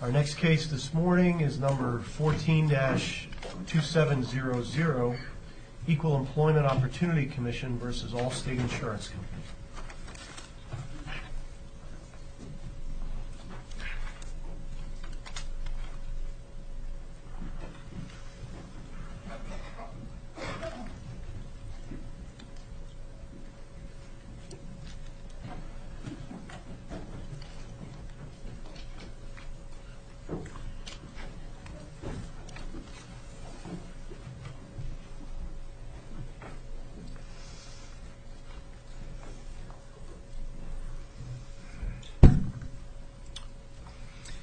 Our next case this morning is number 14-2700, EqualEmploymentOpportunityCommissionV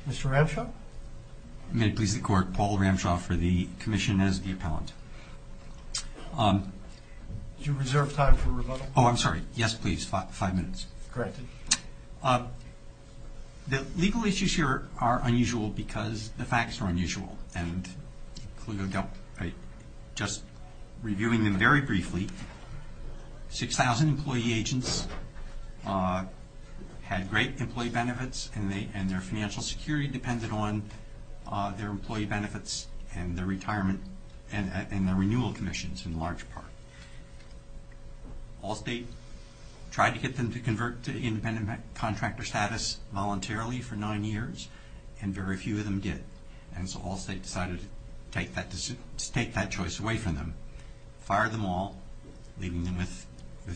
Mr. Ramshaw? May it please the Court, Paul Ramshaw for the Commission as the Appellant. Do you reserve time for rebuttal? Oh, I'm sorry. Yes, please. Five minutes. Correct. The legal issues here are unusual because the facts are unusual. And just reviewing them very briefly, 6,000 employee agents had great employee benefits and their financial security depended on their employee benefits and their retirement and their renewal commissions in large part. Allstate tried to get them to convert to independent contractor status voluntarily for nine years and very few of them did. And so Allstate decided to take that choice away from them, fired them all, leaving them with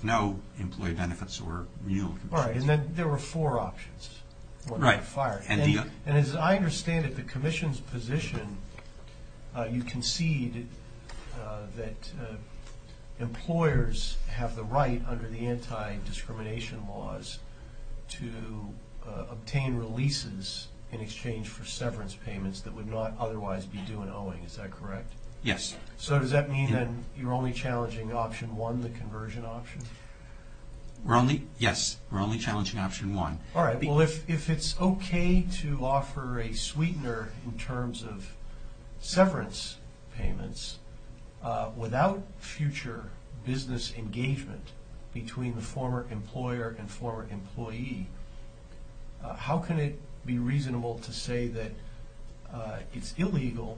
no employee benefits or renewal commissions. All right, and then there were four options. Right. And as I understand it, the Commission's position, you concede that employers have the right under the anti-discrimination laws to obtain releases in exchange for severance payments that would not otherwise be due in owing. Is that correct? Yes. So does that mean then you're only challenging option one, the conversion option? Yes, we're only challenging option one. All right, well, if it's okay to offer a sweetener in terms of severance payments without future business engagement between the former employer and former employee, how can it be reasonable to say that it's illegal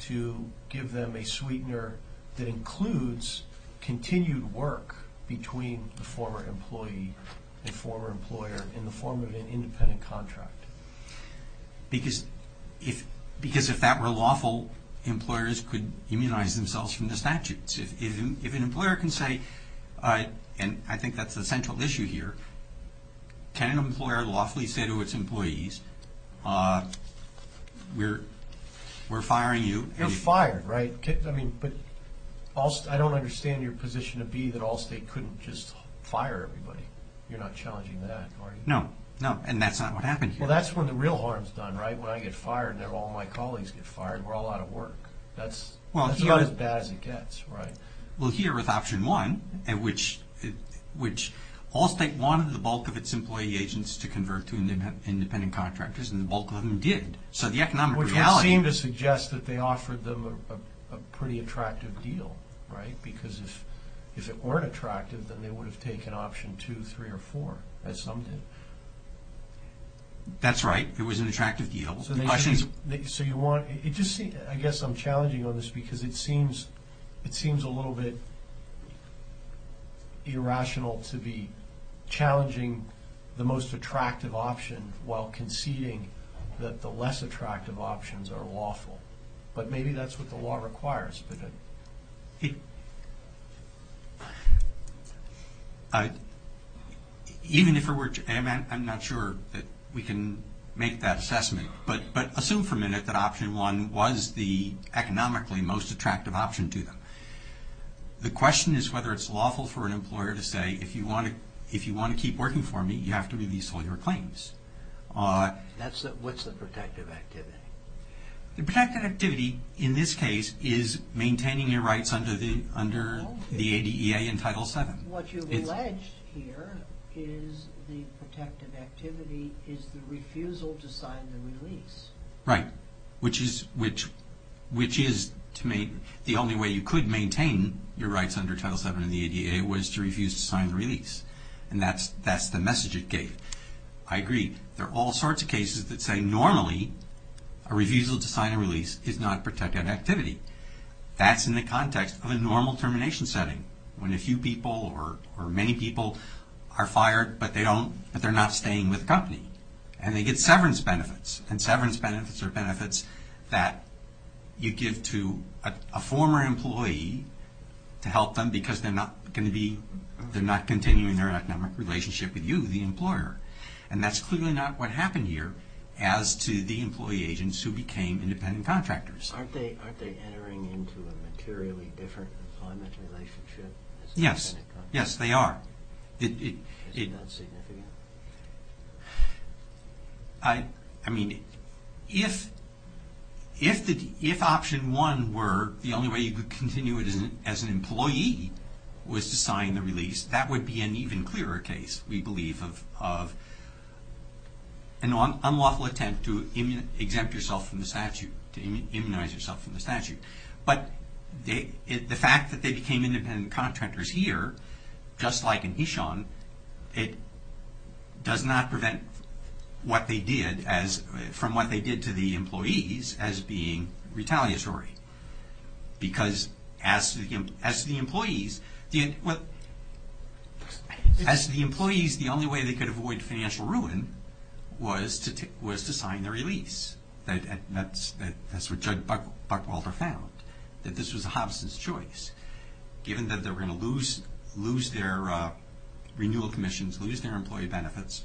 to give them a sweetener that includes continued work between the former employee and former employer in the form of an independent contract? Because if that were lawful, employers could immunize themselves from the statutes. If an employer can say, and I think that's the central issue here, can an employer lawfully say to its employees, we're firing you? You're fired, right? But I don't understand your position to be that Allstate couldn't just fire everybody. You're not challenging that, are you? No, and that's not what happened here. Well, that's when the real harm is done, right? When I get fired and all my colleagues get fired, we're all out of work. That's about as bad as it gets, right? Well, here with option one, which Allstate wanted the bulk of its employee agents to convert to independent contractors, and the bulk of them did. Which would seem to suggest that they offered them a pretty attractive deal, right? Because if it weren't attractive, then they would have taken option two, three, or four, as some did. That's right. It was an attractive deal. So you want – I guess I'm challenging on this because it seems a little bit irrational to be challenging the most attractive option while conceding that the less attractive options are lawful. But maybe that's what the law requires. Even if it were – I'm not sure that we can make that assessment. But assume for a minute that option one was the economically most attractive option to them. The question is whether it's lawful for an employer to say, if you want to keep working for me, you have to release all your claims. What's the protective activity? The protective activity in this case is maintaining your rights under the ADEA in Title VII. What you've alleged here is the protective activity is the refusal to sign the release. Right, which is the only way you could maintain your rights under Title VII in the ADEA was to refuse to sign the release. And that's the message it gave. I agree. There are all sorts of cases that say normally a refusal to sign a release is not a protective activity. That's in the context of a normal termination setting, when a few people or many people are fired but they're not staying with the company. And they get severance benefits. And severance benefits are benefits that you give to a former employee to help them because they're not continuing their economic relationship with you, the employer. And that's clearly not what happened here as to the employee agents who became independent contractors. Aren't they entering into a materially different employment relationship as independent contractors? Yes, they are. Is it not significant? I mean, if option one were the only way you could continue it as an employee was to sign the release, that would be an even clearer case, we believe, of an unlawful attempt to exempt yourself from the statute, but the fact that they became independent contractors here, just like in Eshan, it does not prevent what they did from what they did to the employees as being retaliatory. Because as to the employees, the only way they could avoid financial ruin was to sign the release. That's what Judge Buckwalter found, that this was a hobson's choice. Given that they were going to lose their renewal commissions, lose their employee benefits,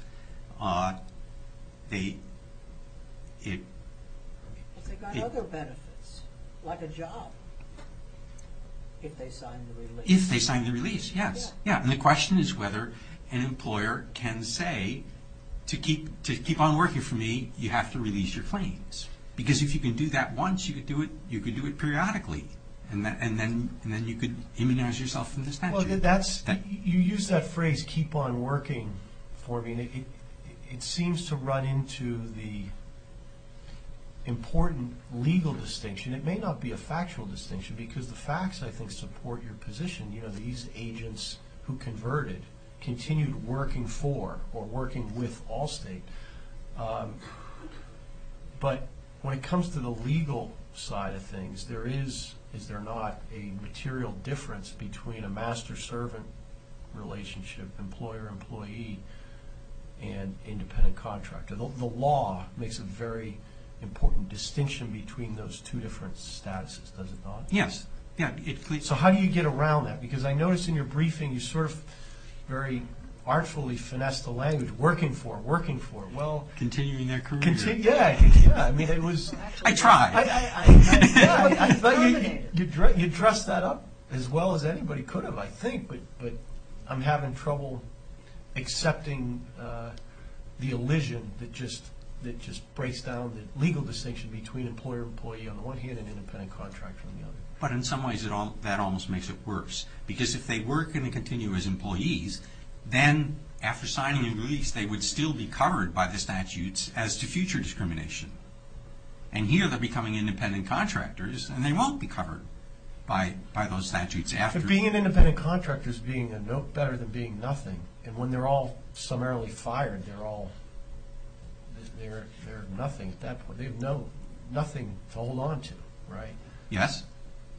they... But they got other benefits, like a job, if they signed the release. If they signed the release, yes. And the question is whether an employer can say, to keep on working for me, you have to release your claims. Because if you can do that once, you could do it periodically, and then you could immunize yourself from the statute. You use that phrase, keep on working for me, and it seems to run into the important legal distinction. It may not be a factual distinction, because the facts, I think, support your position. These agents who converted continued working for or working with Allstate. But when it comes to the legal side of things, there is, is there not, a material difference between a master-servant relationship, employer-employee, and independent contractor? The law makes a very important distinction between those two different statuses, does it not? Yes. So how do you get around that? Because I noticed in your briefing, you sort of very artfully finessed the language, working for, working for. Continuing their career. Yeah. I mean, it was... I tried. I thought you dressed that up as well as anybody could have, I think. But I'm having trouble accepting the elision that just breaks down the legal distinction between employer-employee, on the one hand, and independent contractor on the other. But in some ways, that almost makes it worse. Because if they were going to continue as employees, then after signing a release, they would still be covered by the statutes as to future discrimination. And here, they're becoming independent contractors, and they won't be covered by those statutes after... But being an independent contractor is being no better than being nothing. And when they're all summarily fired, they're all, they're nothing at that point. They have nothing to hold on to, right? Yes.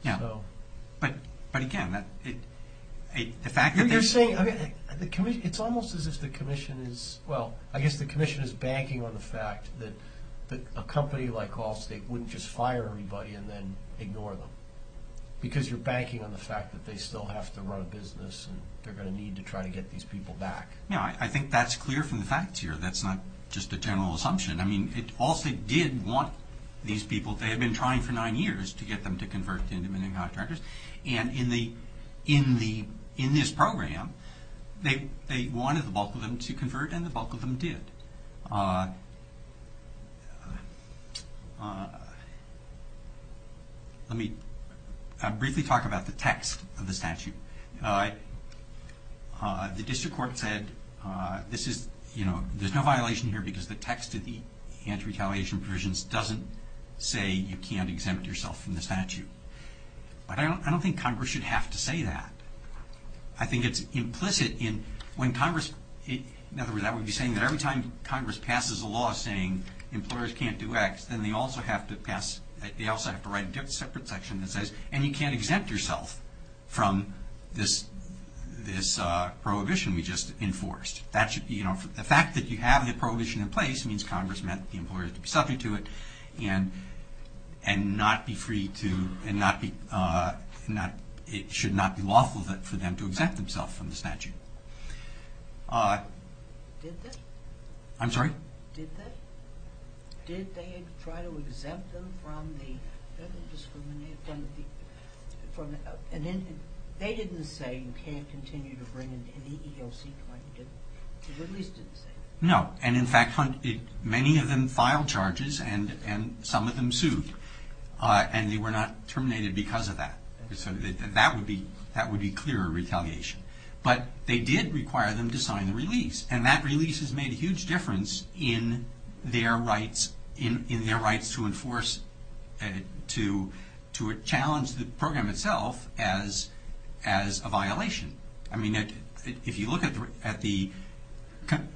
Yeah. But again, the fact that they... You're saying... It's almost as if the commission is... Well, I guess the commission is banking on the fact that a company like Allstate wouldn't just fire everybody and then ignore them. Because you're banking on the fact that they still have to run a business, and they're going to need to try to get these people back. Yeah, I think that's clear from the facts here. That's not just a general assumption. I mean, Allstate did want these people. They had been trying for nine years to get them to convert to independent contractors. And in this program, they wanted the bulk of them to convert, and the bulk of them did. Let me briefly talk about the text of the statute. The district court said there's no violation here because the text of the anti-retaliation provisions doesn't say you can't exempt yourself from the statute. But I don't think Congress should have to say that. I think it's implicit in when Congress... In other words, I would be saying that every time Congress passes a law saying employers can't do X, then they also have to write a separate section that says, and you can't exempt yourself from this prohibition we just enforced. The fact that you have the prohibition in place means Congress meant the employers to be subject to it and it should not be lawful for them to exempt themselves from the statute. Did they? I'm sorry? Did they? Did they try to exempt them from the... They didn't say you can't continue to bring in any EEOC client. The release didn't say that. No, and in fact, many of them filed charges and some of them sued. And they were not terminated because of that. So that would be clear retaliation. But they did require them to sign the release. And that release has made a huge difference in their rights to enforce, to challenge the program itself as a violation. I mean, if you look at the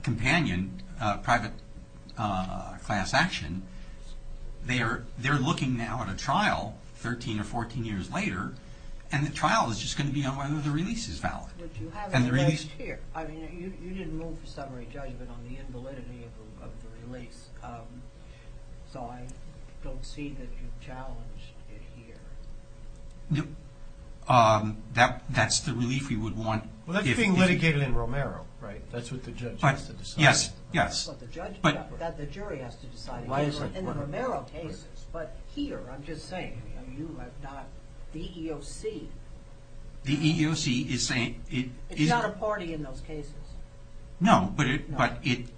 companion, private class action, they're looking now at a trial 13 or 14 years later, and the trial is just going to be on whether the release is valid. But you have it placed here. I mean, you didn't move for summary judgment on the invalidity of the release. So I don't see that you've challenged it here. That's the relief we would want if... Well, that's being litigated in Romero, right? That's what the judge has to decide. Yes, yes. That's what the jury has to decide. In the Romero cases. But here, I'm just saying, the EEOC... It's not a party in those cases. No, but it...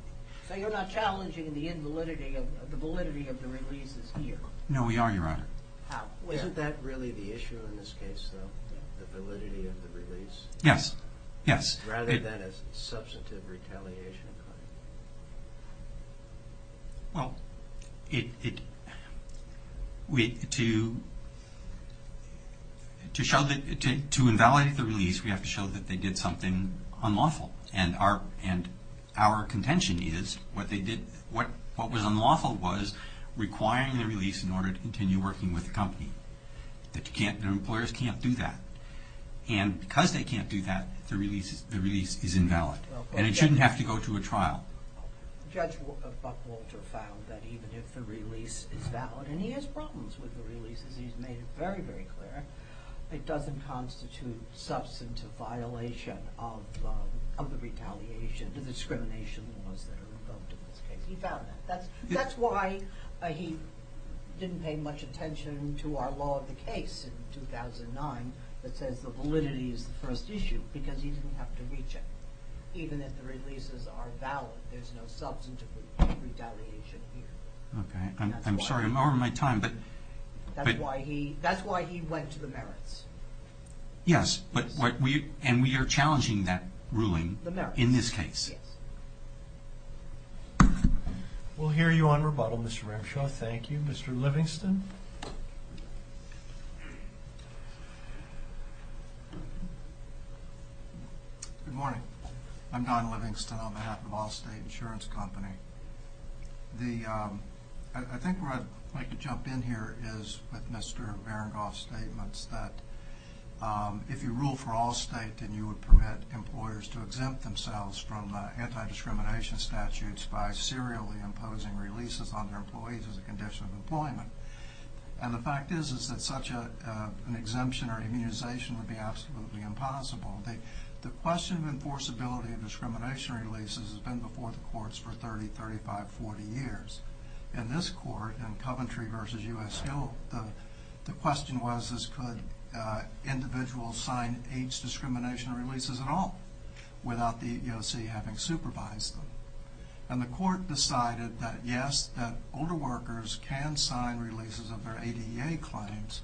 So you're not challenging the validity of the release here. No, we are, Your Honor. Isn't that really the issue in this case, though, the validity of the release? Yes, yes. Rather than a substantive retaliation. Well, to invalidate the release, we have to show that they did something unlawful. And our contention is what was unlawful was requiring the release in order to continue working with the company. The employers can't do that. And because they can't do that, the release is invalid. And it shouldn't have to go to a trial. Judge Buckwalter found that even if the release is valid, and he has problems with the releases. He's made it very, very clear. It doesn't constitute substantive violation of the retaliation, the discrimination laws that are invoked in this case. He found that. That's why he didn't pay much attention to our law of the case in 2009 that says the validity is the first issue, because he didn't have to reach it. Even if the releases are valid, there's no substantive retaliation here. Okay. I'm sorry. I'm over my time. That's why he went to the merits. Yes, and we are challenging that ruling in this case. We'll hear you on rebuttal, Mr. Ramshaw. Thank you. Mr. Livingston? Good morning. I'm Don Livingston on behalf of Allstate Insurance Company. I think where I'd like to jump in here is with Mr. Marengoff's statements that if you rule for Allstate, then you would permit employers to exempt themselves from anti-discrimination statutes by serially imposing releases on their employees as a condition of employment. The fact is that such an exemption or immunization would be absolutely impossible. The question of enforceability of discrimination releases has been before the courts for 30, 35, 40 years. In this court, in Coventry v. U.S. Hill, the question was could individuals sign age discrimination releases at all without the EEOC having supervised them. And the court decided that, yes, that older workers can sign releases of their ADA claims,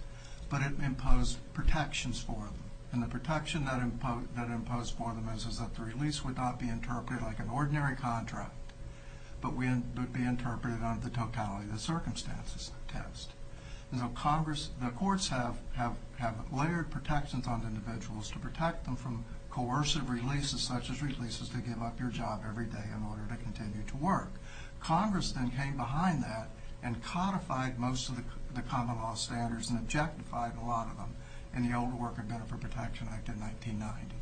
but it imposed protections for them. And the protection that it imposed for them is that the release would not be interpreted like an ordinary contract, but would be interpreted under the totality of the circumstances test. The courts have layered protections on individuals to protect them from coercive releases such as releases to give up your job every day in order to continue to work. Congress then came behind that and codified most of the common law standards and objectified a lot of them in the Older Worker Benefit Protection Act of 1990.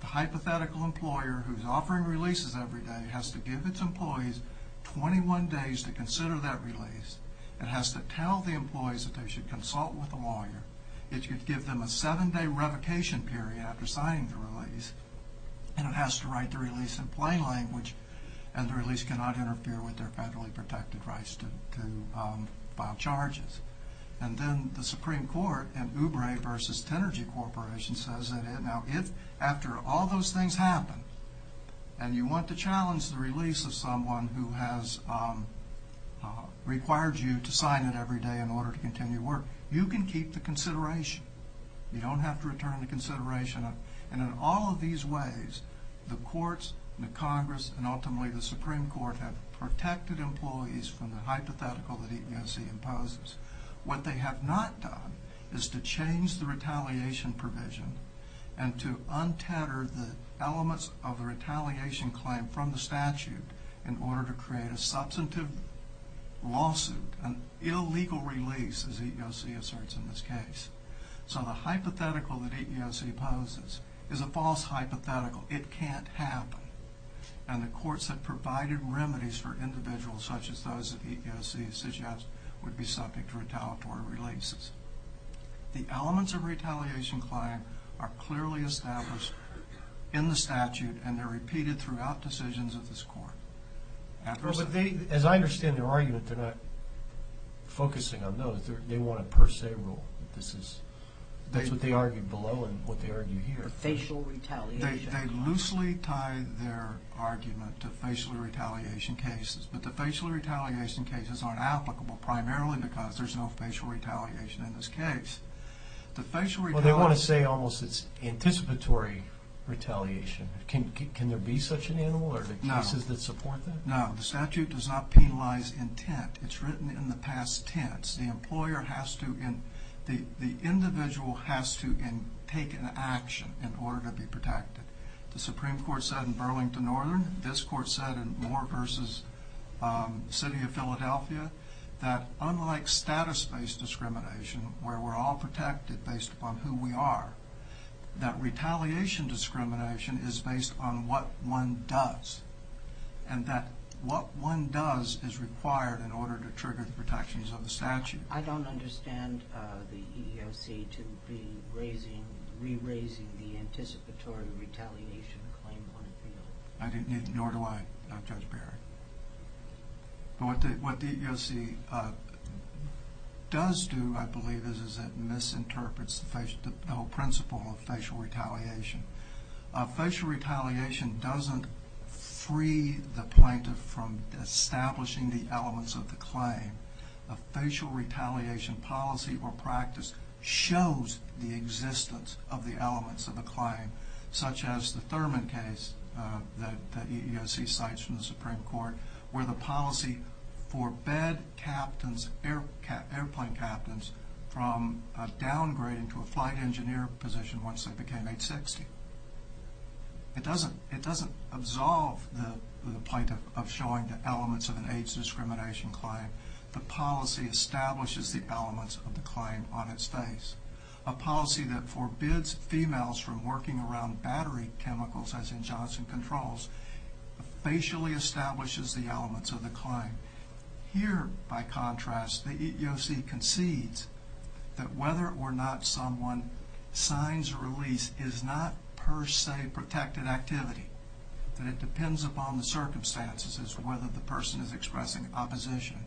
The hypothetical employer who is offering releases every day has to give its employees 21 days to consider that release. It has to tell the employees that they should consult with a lawyer. And it has to write the release in plain language and the release cannot interfere with their federally protected rights to file charges. And then the Supreme Court in Oubre v. Tenergy Corporation says that now if after all those things happen and you want to challenge the release of someone who has required you to sign it every day in order to continue to work, you can keep the consideration. You don't have to return the consideration. And in all of these ways, the courts, the Congress, and ultimately the Supreme Court have protected employees from the hypothetical that EEOC imposes. What they have not done is to change the retaliation provision and to untether the elements of the retaliation claim from the statute in order to create a substantive lawsuit, an illegal release as EEOC asserts in this case. So the hypothetical that EEOC poses is a false hypothetical. It can't happen. And the courts have provided remedies for individuals such as those that EEOC suggests would be subject to retaliatory releases. The elements of retaliation claim are clearly established in the statute and they're repeated throughout decisions of this court. As I understand their argument, they're not focusing on those. They want a per se rule. That's what they argue below and what they argue here. The facial retaliation. They loosely tie their argument to facial retaliation cases, but the facial retaliation cases aren't applicable primarily because there's no facial retaliation in this case. Well, they want to say almost it's anticipatory retaliation. Can there be such an animal or are there cases that support that? No. The statute does not penalize intent. It's written in the past tense. The individual has to take an action in order to be protected. The Supreme Court said in Burlington Northern, this court said in Moore v. City of Philadelphia, that unlike status-based discrimination where we're all protected based upon who we are, that retaliation discrimination is based on what one does and that what one does is required in order to trigger the protections of the statute. I don't understand the EEOC to be re-raising the anticipatory retaliation claim on appeal. Nor do I, Judge Berry. What the EEOC does do, I believe, is it misinterprets the whole principle of facial retaliation. Facial retaliation doesn't free the plaintiff from establishing the elements of the claim. A facial retaliation policy or practice shows the existence of the elements of the claim, such as the Thurman case that the EEOC cites from the Supreme Court, where the policy forbade airplane captains from downgrading to a flight engineer position once they became age 60. It doesn't absolve the plaintiff of showing the elements of an age discrimination claim. The policy establishes the elements of the claim on its face. A policy that forbids females from working around battery chemicals, as in Johnson Controls, facially establishes the elements of the claim. Here, by contrast, the EEOC concedes that whether or not someone signs a release is not per se protected activity. That it depends upon the circumstances as to whether the person is expressing opposition.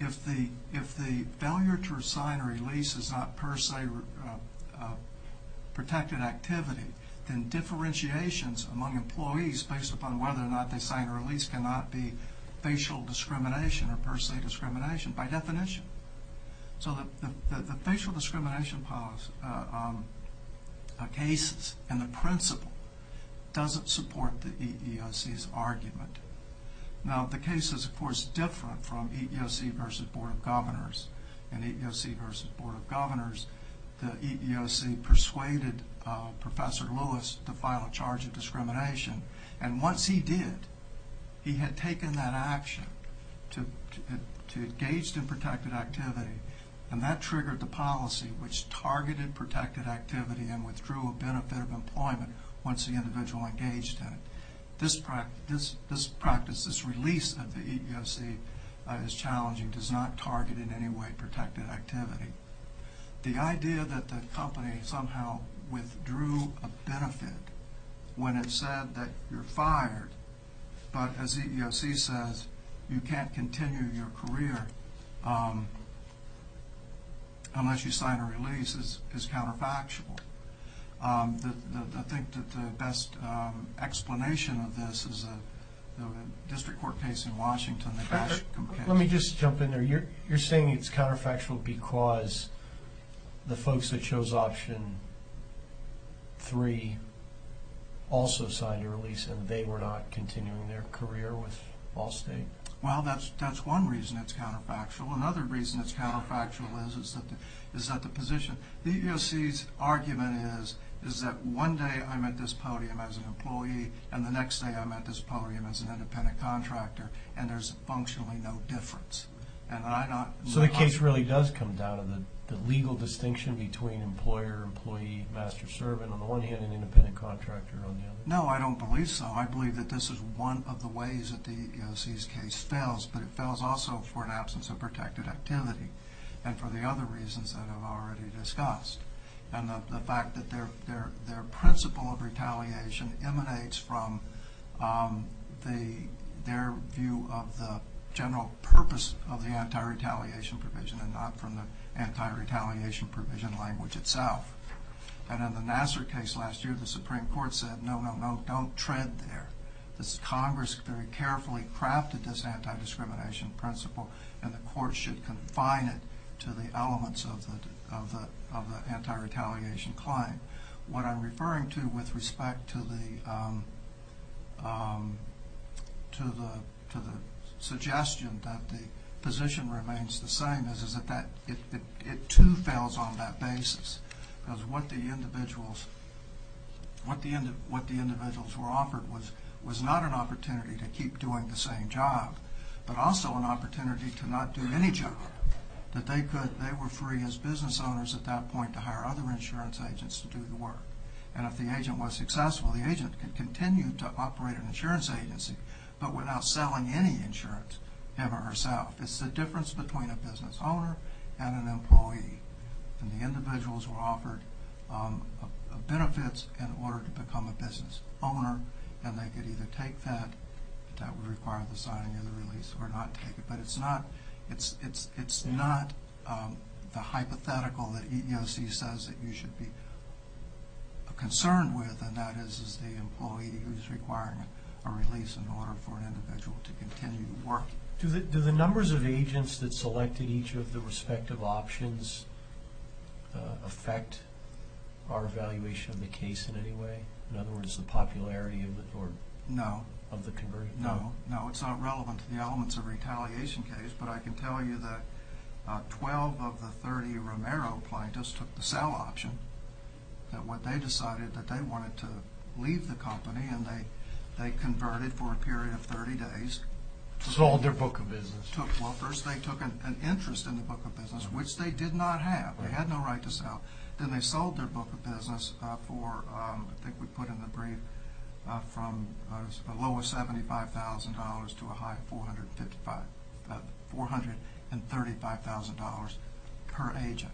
If the failure to sign a release is not per se protected activity, then differentiations among employees based upon whether or not they sign a release cannot be facial discrimination or per se discrimination by definition. So the facial discrimination cases and the principle doesn't support the EEOC's argument. Now, the case is, of course, different from EEOC versus Board of Governors. In EEOC versus Board of Governors, the EEOC persuaded Professor Lewis to file a charge of discrimination, and once he did, he had taken that action to engage in protected activity, and that triggered the policy which targeted protected activity and withdrew a benefit of employment once the individual engaged in it. This practice, this release of the EEOC, is challenging. It does not target in any way protected activity. The idea that the company somehow withdrew a benefit when it said that you're fired, but as EEOC says, you can't continue your career unless you sign a release is counterfactual. I think that the best explanation of this is the district court case in Washington. Let me just jump in there. You're saying it's counterfactual because the folks that chose option 3 also signed a release and they were not continuing their career with Ball State? Well, that's one reason it's counterfactual. Another reason it's counterfactual is that the position, the EEOC's argument is that one day I'm at this podium as an employee and the next day I'm at this podium as an independent contractor, and there's functionally no difference. So the case really does come down to the legal distinction between employer-employee, master-servant on the one hand and independent contractor on the other? No, I don't believe so. I believe that this is one of the ways that the EEOC's case fails, but it fails also for an absence of protected activity and for the other reasons that I've already discussed. And the fact that their principle of retaliation emanates from their view of the general purpose of the anti-retaliation provision and not from the anti-retaliation provision language itself. And in the Nassar case last year, the Supreme Court said, no, no, no, don't tread there. Congress very carefully crafted this anti-discrimination principle and the court should confine it to the elements of the anti-retaliation claim. What I'm referring to with respect to the suggestion that the position remains the same is that it too fails on that basis. Because what the individuals were offered was not an opportunity to keep doing the same job, but also an opportunity to not do any job, that they were free as business owners at that point to hire other insurance agents to do the work. And if the agent was successful, the agent could continue to operate an insurance agency, but without selling any insurance, him or herself. It's the difference between a business owner and an employee. And the individuals were offered benefits in order to become a business owner and they could either take that, that would require the signing of the release, or not take it. But it's not the hypothetical that EEOC says that you should be concerned with, and that is the employee who's requiring a release in order for an individual to continue to work. Do the numbers of agents that selected each of the respective options affect our evaluation of the case in any way? In other words, the popularity of the conversion? No, it's not relevant to the elements of a retaliation case, but I can tell you that 12 of the 30 Romero plaintiffs took the sell option. They decided that they wanted to leave the company and they converted for a period of 30 days. Sold their book of business. Well, first they took an interest in the book of business, which they did not have. They had no right to sell. Then they sold their book of business for, I think we put in the brief, from a low of $75,000 to a high of $435,000 per agent.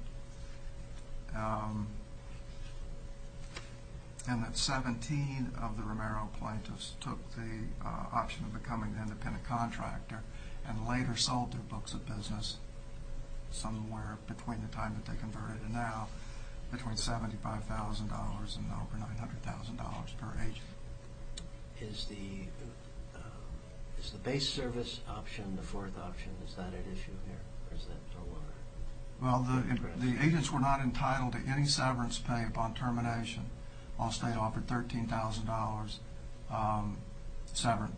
And that 17 of the Romero plaintiffs took the option of becoming an independent contractor and later sold their books of business somewhere between the time that they converted and now, between $75,000 and over $900,000 per agent. Is the base service option the fourth option? Is that at issue here, or is that no longer? Well, the agents were not entitled to any severance pay upon termination. Allstate offered $13,000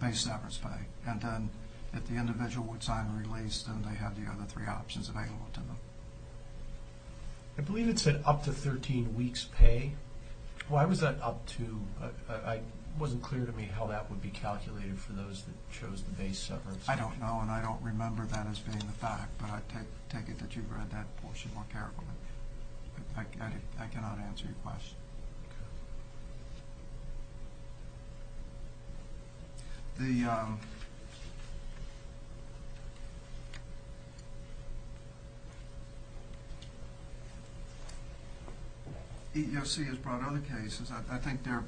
base severance pay. And then if the individual would sign release, then they had the other three options available to them. I believe it said up to 13 weeks pay. Why was that up to? It wasn't clear to me how that would be calculated for those that chose the base severance. I don't know, and I don't remember that as being the fact, but I take it that you've read that portion more carefully. I cannot answer your question. Okay. The EEOC has brought other cases. I think they're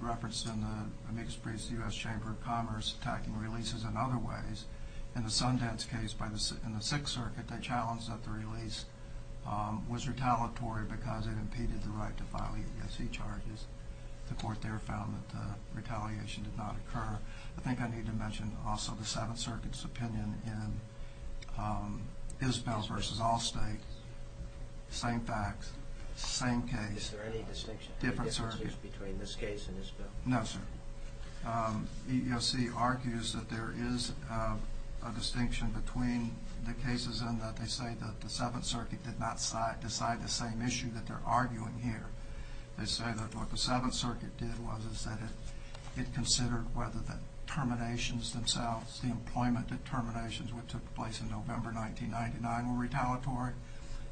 referenced in the amicus briefs of the U.S. Chamber of Commerce attacking releases in other ways. In the Sundance case in the Sixth Circuit, they challenged that the release was retaliatory because it impeded the right to file EEOC charges. The court there found that the retaliation did not occur. I think I need to mention also the Seventh Circuit's opinion in Isbell versus Allstate. Same facts, same case, different circuit. Is there any distinction between this case and Isbell? No, sir. The EEOC argues that there is a distinction between the cases in that they say that the Seventh Circuit did not decide the same issue that they're arguing here. They say that what the Seventh Circuit did was that it considered whether the terminations themselves, the employment determinations which took place in November 1999 were retaliatory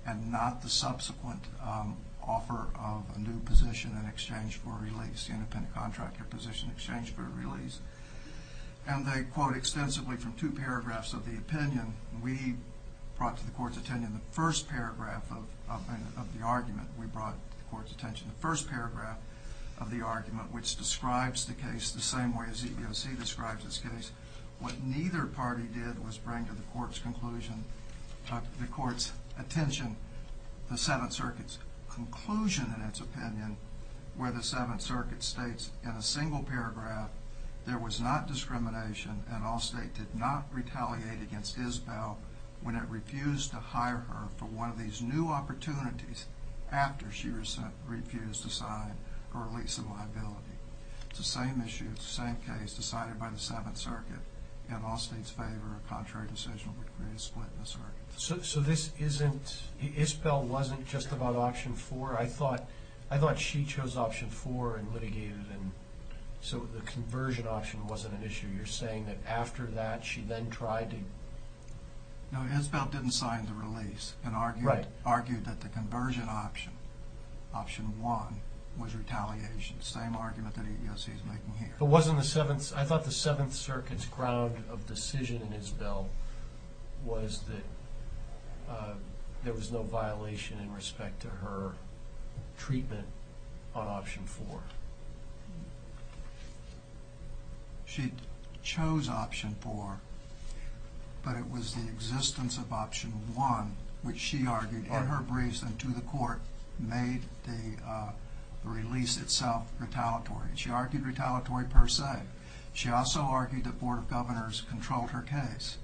and not the subsequent offer of a new position in exchange for a release, the independent contractor position in exchange for a release. And they quote extensively from two paragraphs of the opinion. We brought to the court's attention the first paragraph of the argument. We brought to the court's attention the first paragraph of the argument, which describes the case the same way EEOC describes its case. What neither party did was bring to the court's attention the Seventh Circuit's conclusion in its opinion where the Seventh Circuit states in a single paragraph, there was not discrimination and Allstate did not retaliate against Isbell when it refused to hire her for one of these new opportunities after she refused to sign her release of liability. It's the same issue, it's the same case decided by the Seventh Circuit. In Allstate's favor, a contrary decision would create a split in the circuit. So this isn't, Isbell wasn't just about Option 4? I thought she chose Option 4 and litigated and so the conversion option wasn't an issue. You're saying that after that she then tried to... No, Isbell didn't sign the release and argued that the conversion option, Option 1, was retaliation. Same argument that EEOC is making here. But wasn't the Seventh, I thought the Seventh Circuit's ground of decision in Isbell was that there was no violation in respect to her treatment on Option 4. She chose Option 4, but it was the existence of Option 1, which she argued in her briefs and to the court, made the release itself retaliatory. She argued retaliatory per se. She also argued that Board of Governors controlled her case.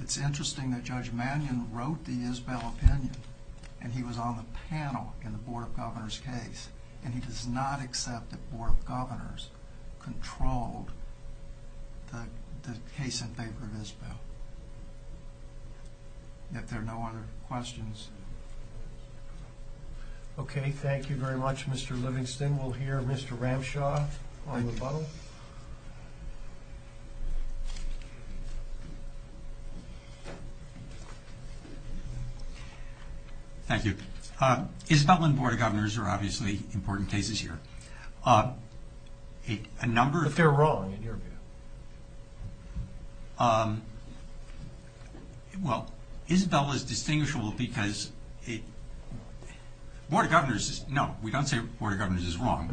It's interesting that Judge Mannion wrote the Isbell opinion and he was on the panel in the Board of Governors case and he does not accept that Board of Governors controlled the case in favor of Isbell. If there are no other questions... Okay, thank you very much, Mr. Livingston. We'll hear Mr. Ramshaw on the bottle. Thank you. Isbell and Board of Governors are obviously important cases here. A number of... But they're wrong, in your view. Well, Isbell is distinguishable because... Board of Governors is... No, we don't say Board of Governors is wrong.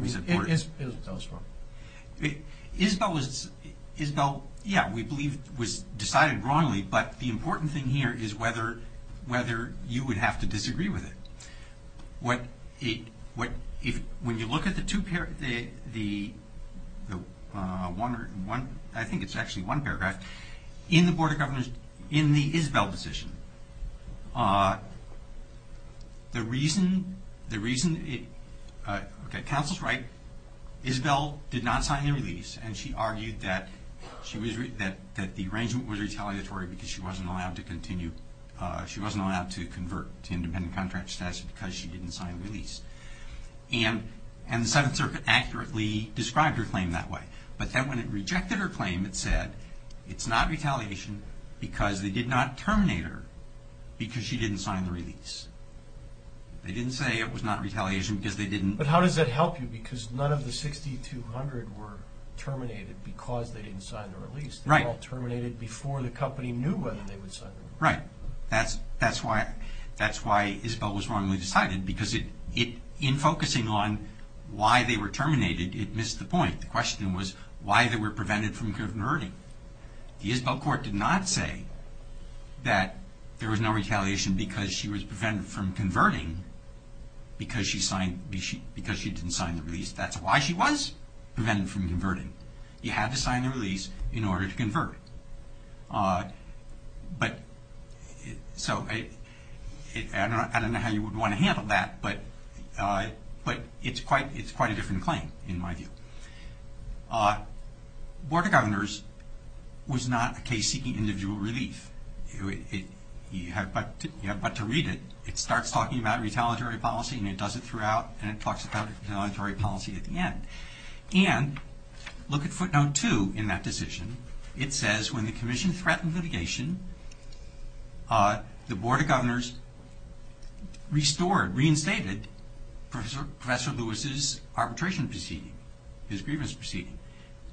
Isbell, yeah, we believe was decided wrongly, but the important thing here is whether you would have to disagree with it. When you look at the two... I think it's actually one paragraph. In the Board of Governors, in the Isbell position, the reason... Okay, counsel's right. Isbell did not sign the release and she argued that the arrangement was retaliatory because she wasn't allowed to continue, she wasn't allowed to convert to independent contract status because she didn't sign the release. And the Seventh Circuit accurately described her claim that way. But then when it rejected her claim, it said, it's not retaliation because they did not terminate her because she didn't sign the release. They didn't say it was not retaliation because they didn't... But how does that help you? Because none of the 6,200 were terminated because they didn't sign the release. They were all terminated before the company knew whether they would sign the release. Right. That's why Isbell was wrongly decided because in focusing on why they were terminated, it missed the point. The question was why they were prevented from converting. The Isbell court did not say that there was no retaliation because she was prevented from converting because she didn't sign the release. That's why she was prevented from converting. You had to sign the release in order to convert. But... So, I don't know how you would want to handle that, but it's quite a different claim, in my view. Board of Governors was not a case seeking individual relief. You have but to read it. It starts talking about retaliatory policy and it does it throughout and it talks about retaliatory policy at the end. And look at footnote 2 in that decision. It says, when the commission threatened litigation, the Board of Governors restored, reinstated, Professor Lewis's arbitration proceeding, his grievance proceeding.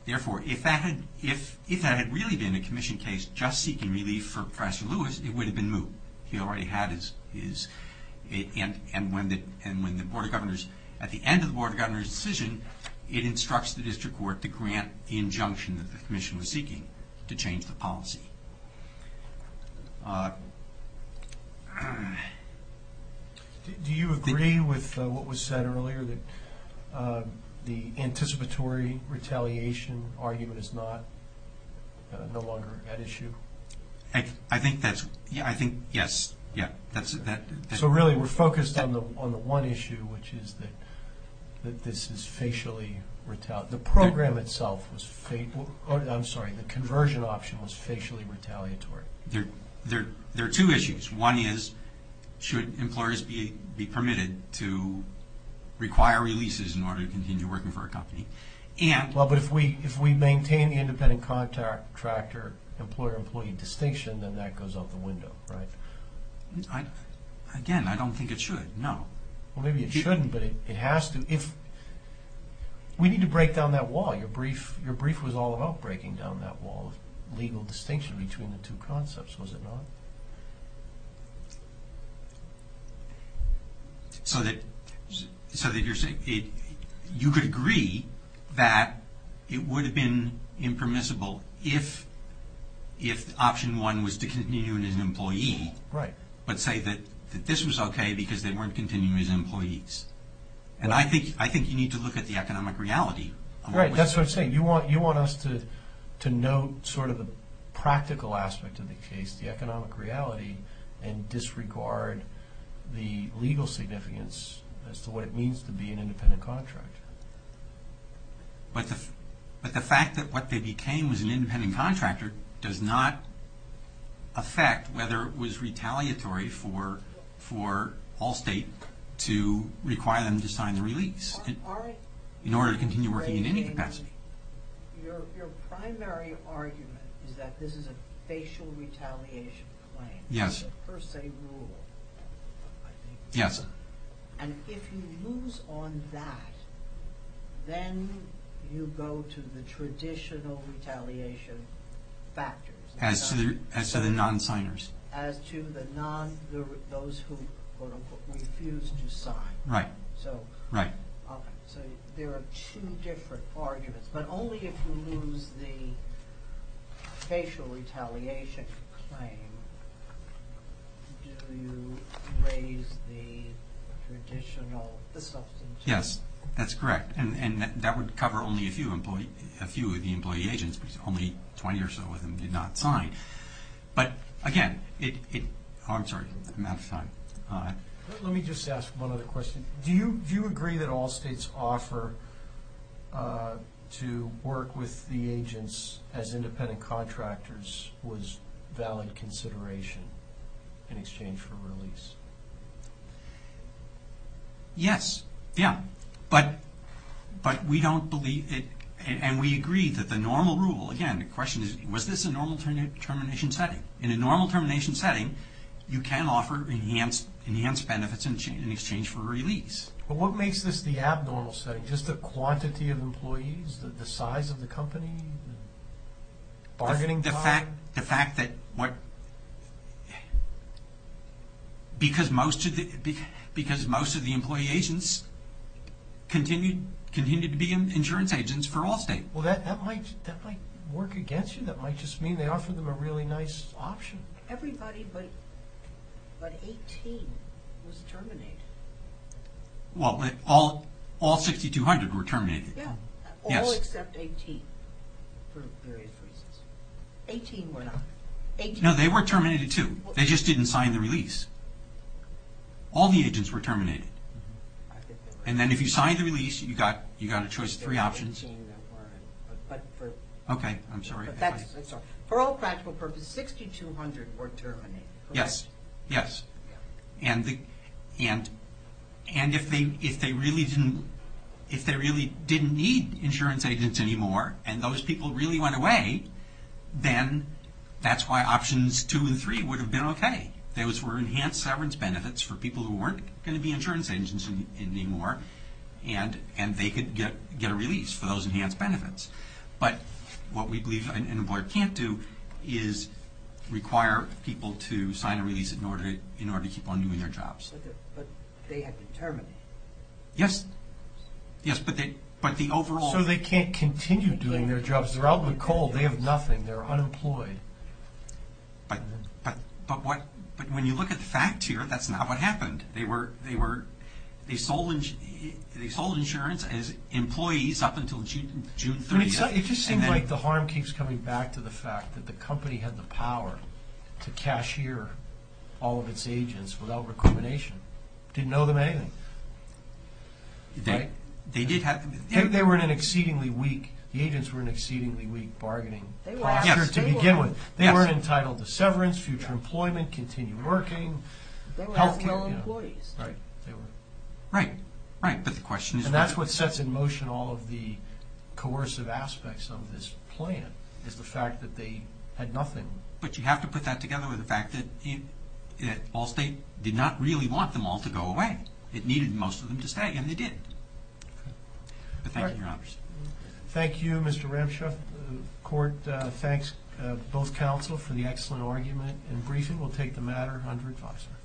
Therefore, if that had really been a commission case just seeking relief for Professor Lewis, it would have been moved. He already had his... And when the Board of Governors, at the end of the Board of Governors' decision, it instructs the district court to grant the injunction that the commission was seeking to change the policy. Uh... Do you agree with what was said earlier, that the anticipatory retaliation argument is no longer an issue? I think that's... Yeah, I think, yes. Yeah, that's... So, really, we're focused on the one issue, which is that this is facially... The program itself was... I'm sorry. The conversion option was facially retaliatory. There are two issues. One is, should employers be permitted to require releases in order to continue working for a company? Well, but if we maintain the independent contract or employer-employee distinction, then that goes out the window, right? Again, I don't think it should, no. Well, maybe it shouldn't, but it has to. If... We need to break down that wall. Your brief was all about breaking down that wall of legal distinction between the two concepts, was it not? So that you're saying... You could agree that it would have been impermissible if option one was to continue as an employee... Right. ...but say that this was okay because they weren't continuing as employees. And I think you need to look at the economic reality. Right, that's what I'm saying. You want us to note sort of the practical aspect of the case, the economic reality, and disregard the legal significance as to what it means to be an independent contractor. But the fact that what they became was an independent contractor does not affect whether it was retaliatory for Allstate to require them to sign the release. In order to continue working in any capacity. Your primary argument is that this is a facial retaliation claim. Yes. It's a per se rule, I think. Yes. And if you lose on that, then you go to the traditional retaliation factors. As to the non-signers. As to those who, quote unquote, refuse to sign. Right. So there are two different arguments. But only if you lose the facial retaliation claim do you raise the traditional, the substantive. Yes, that's correct. And that would cover only a few of the employee agents because only 20 or so of them did not sign. But again, it... I'm sorry, I'm out of time. Let me just ask one other question. Do you agree that Allstate's offer to work with the agents as independent contractors was valid consideration in exchange for release? Yes. Yeah. But we don't believe it. And we agree that the normal rule, again, the question is, was this a normal termination setting? In a normal termination setting, you can offer enhanced benefits in exchange for release. But what makes this the abnormal setting? Just the quantity of employees? The size of the company? Bargaining power? The fact that what... Because most of the employee agents continued to be insurance agents for Allstate. Well, that might work against you. That might just mean they offered them a really nice option. Everybody but 18 was terminated. Well, all 6,200 were terminated. Yeah, all except 18 for various reasons. 18 were not. No, they were terminated too. They just didn't sign the release. All the agents were terminated. And then if you signed the release, you got a choice of three options. Okay, I'm sorry. For all practical purposes, 6,200 were terminated. Yes, yes. And if they really didn't need insurance agents anymore and those people really went away, then that's why options 2 and 3 would have been okay. Those were enhanced severance benefits for people who weren't going to be insurance agents anymore, and they could get a release for those enhanced benefits. But what we believe an employer can't do is require people to sign a release in order to keep on doing their jobs. But they had to terminate. Yes. Yes, but the overall... So they can't continue doing their jobs. They're out with coal. They have nothing. They're unemployed. But when you look at the facts here, that's not what happened. They sold insurance as employees up until June 3. It just seems like the harm keeps coming back to the fact that the company had the power to cashier all of its agents without recrimination. Didn't owe them anything. They were in an exceedingly weak... The agents were in an exceedingly weak bargaining posture to begin with. They weren't entitled to severance, future employment, continue working, health care. They were as well employees. Right, they were. Right, right, but the question is... And that's what sets in motion all of the coercive aspects of this plan, is the fact that they had nothing. But you have to put that together with the fact that Ball State did not really want them all to go away. It needed most of them to stay, and they did. But thank you, Your Honors. Thank you, Mr. Ramshaw. The court thanks both counsel for the excellent argument and briefing. We'll take the matter under advisory.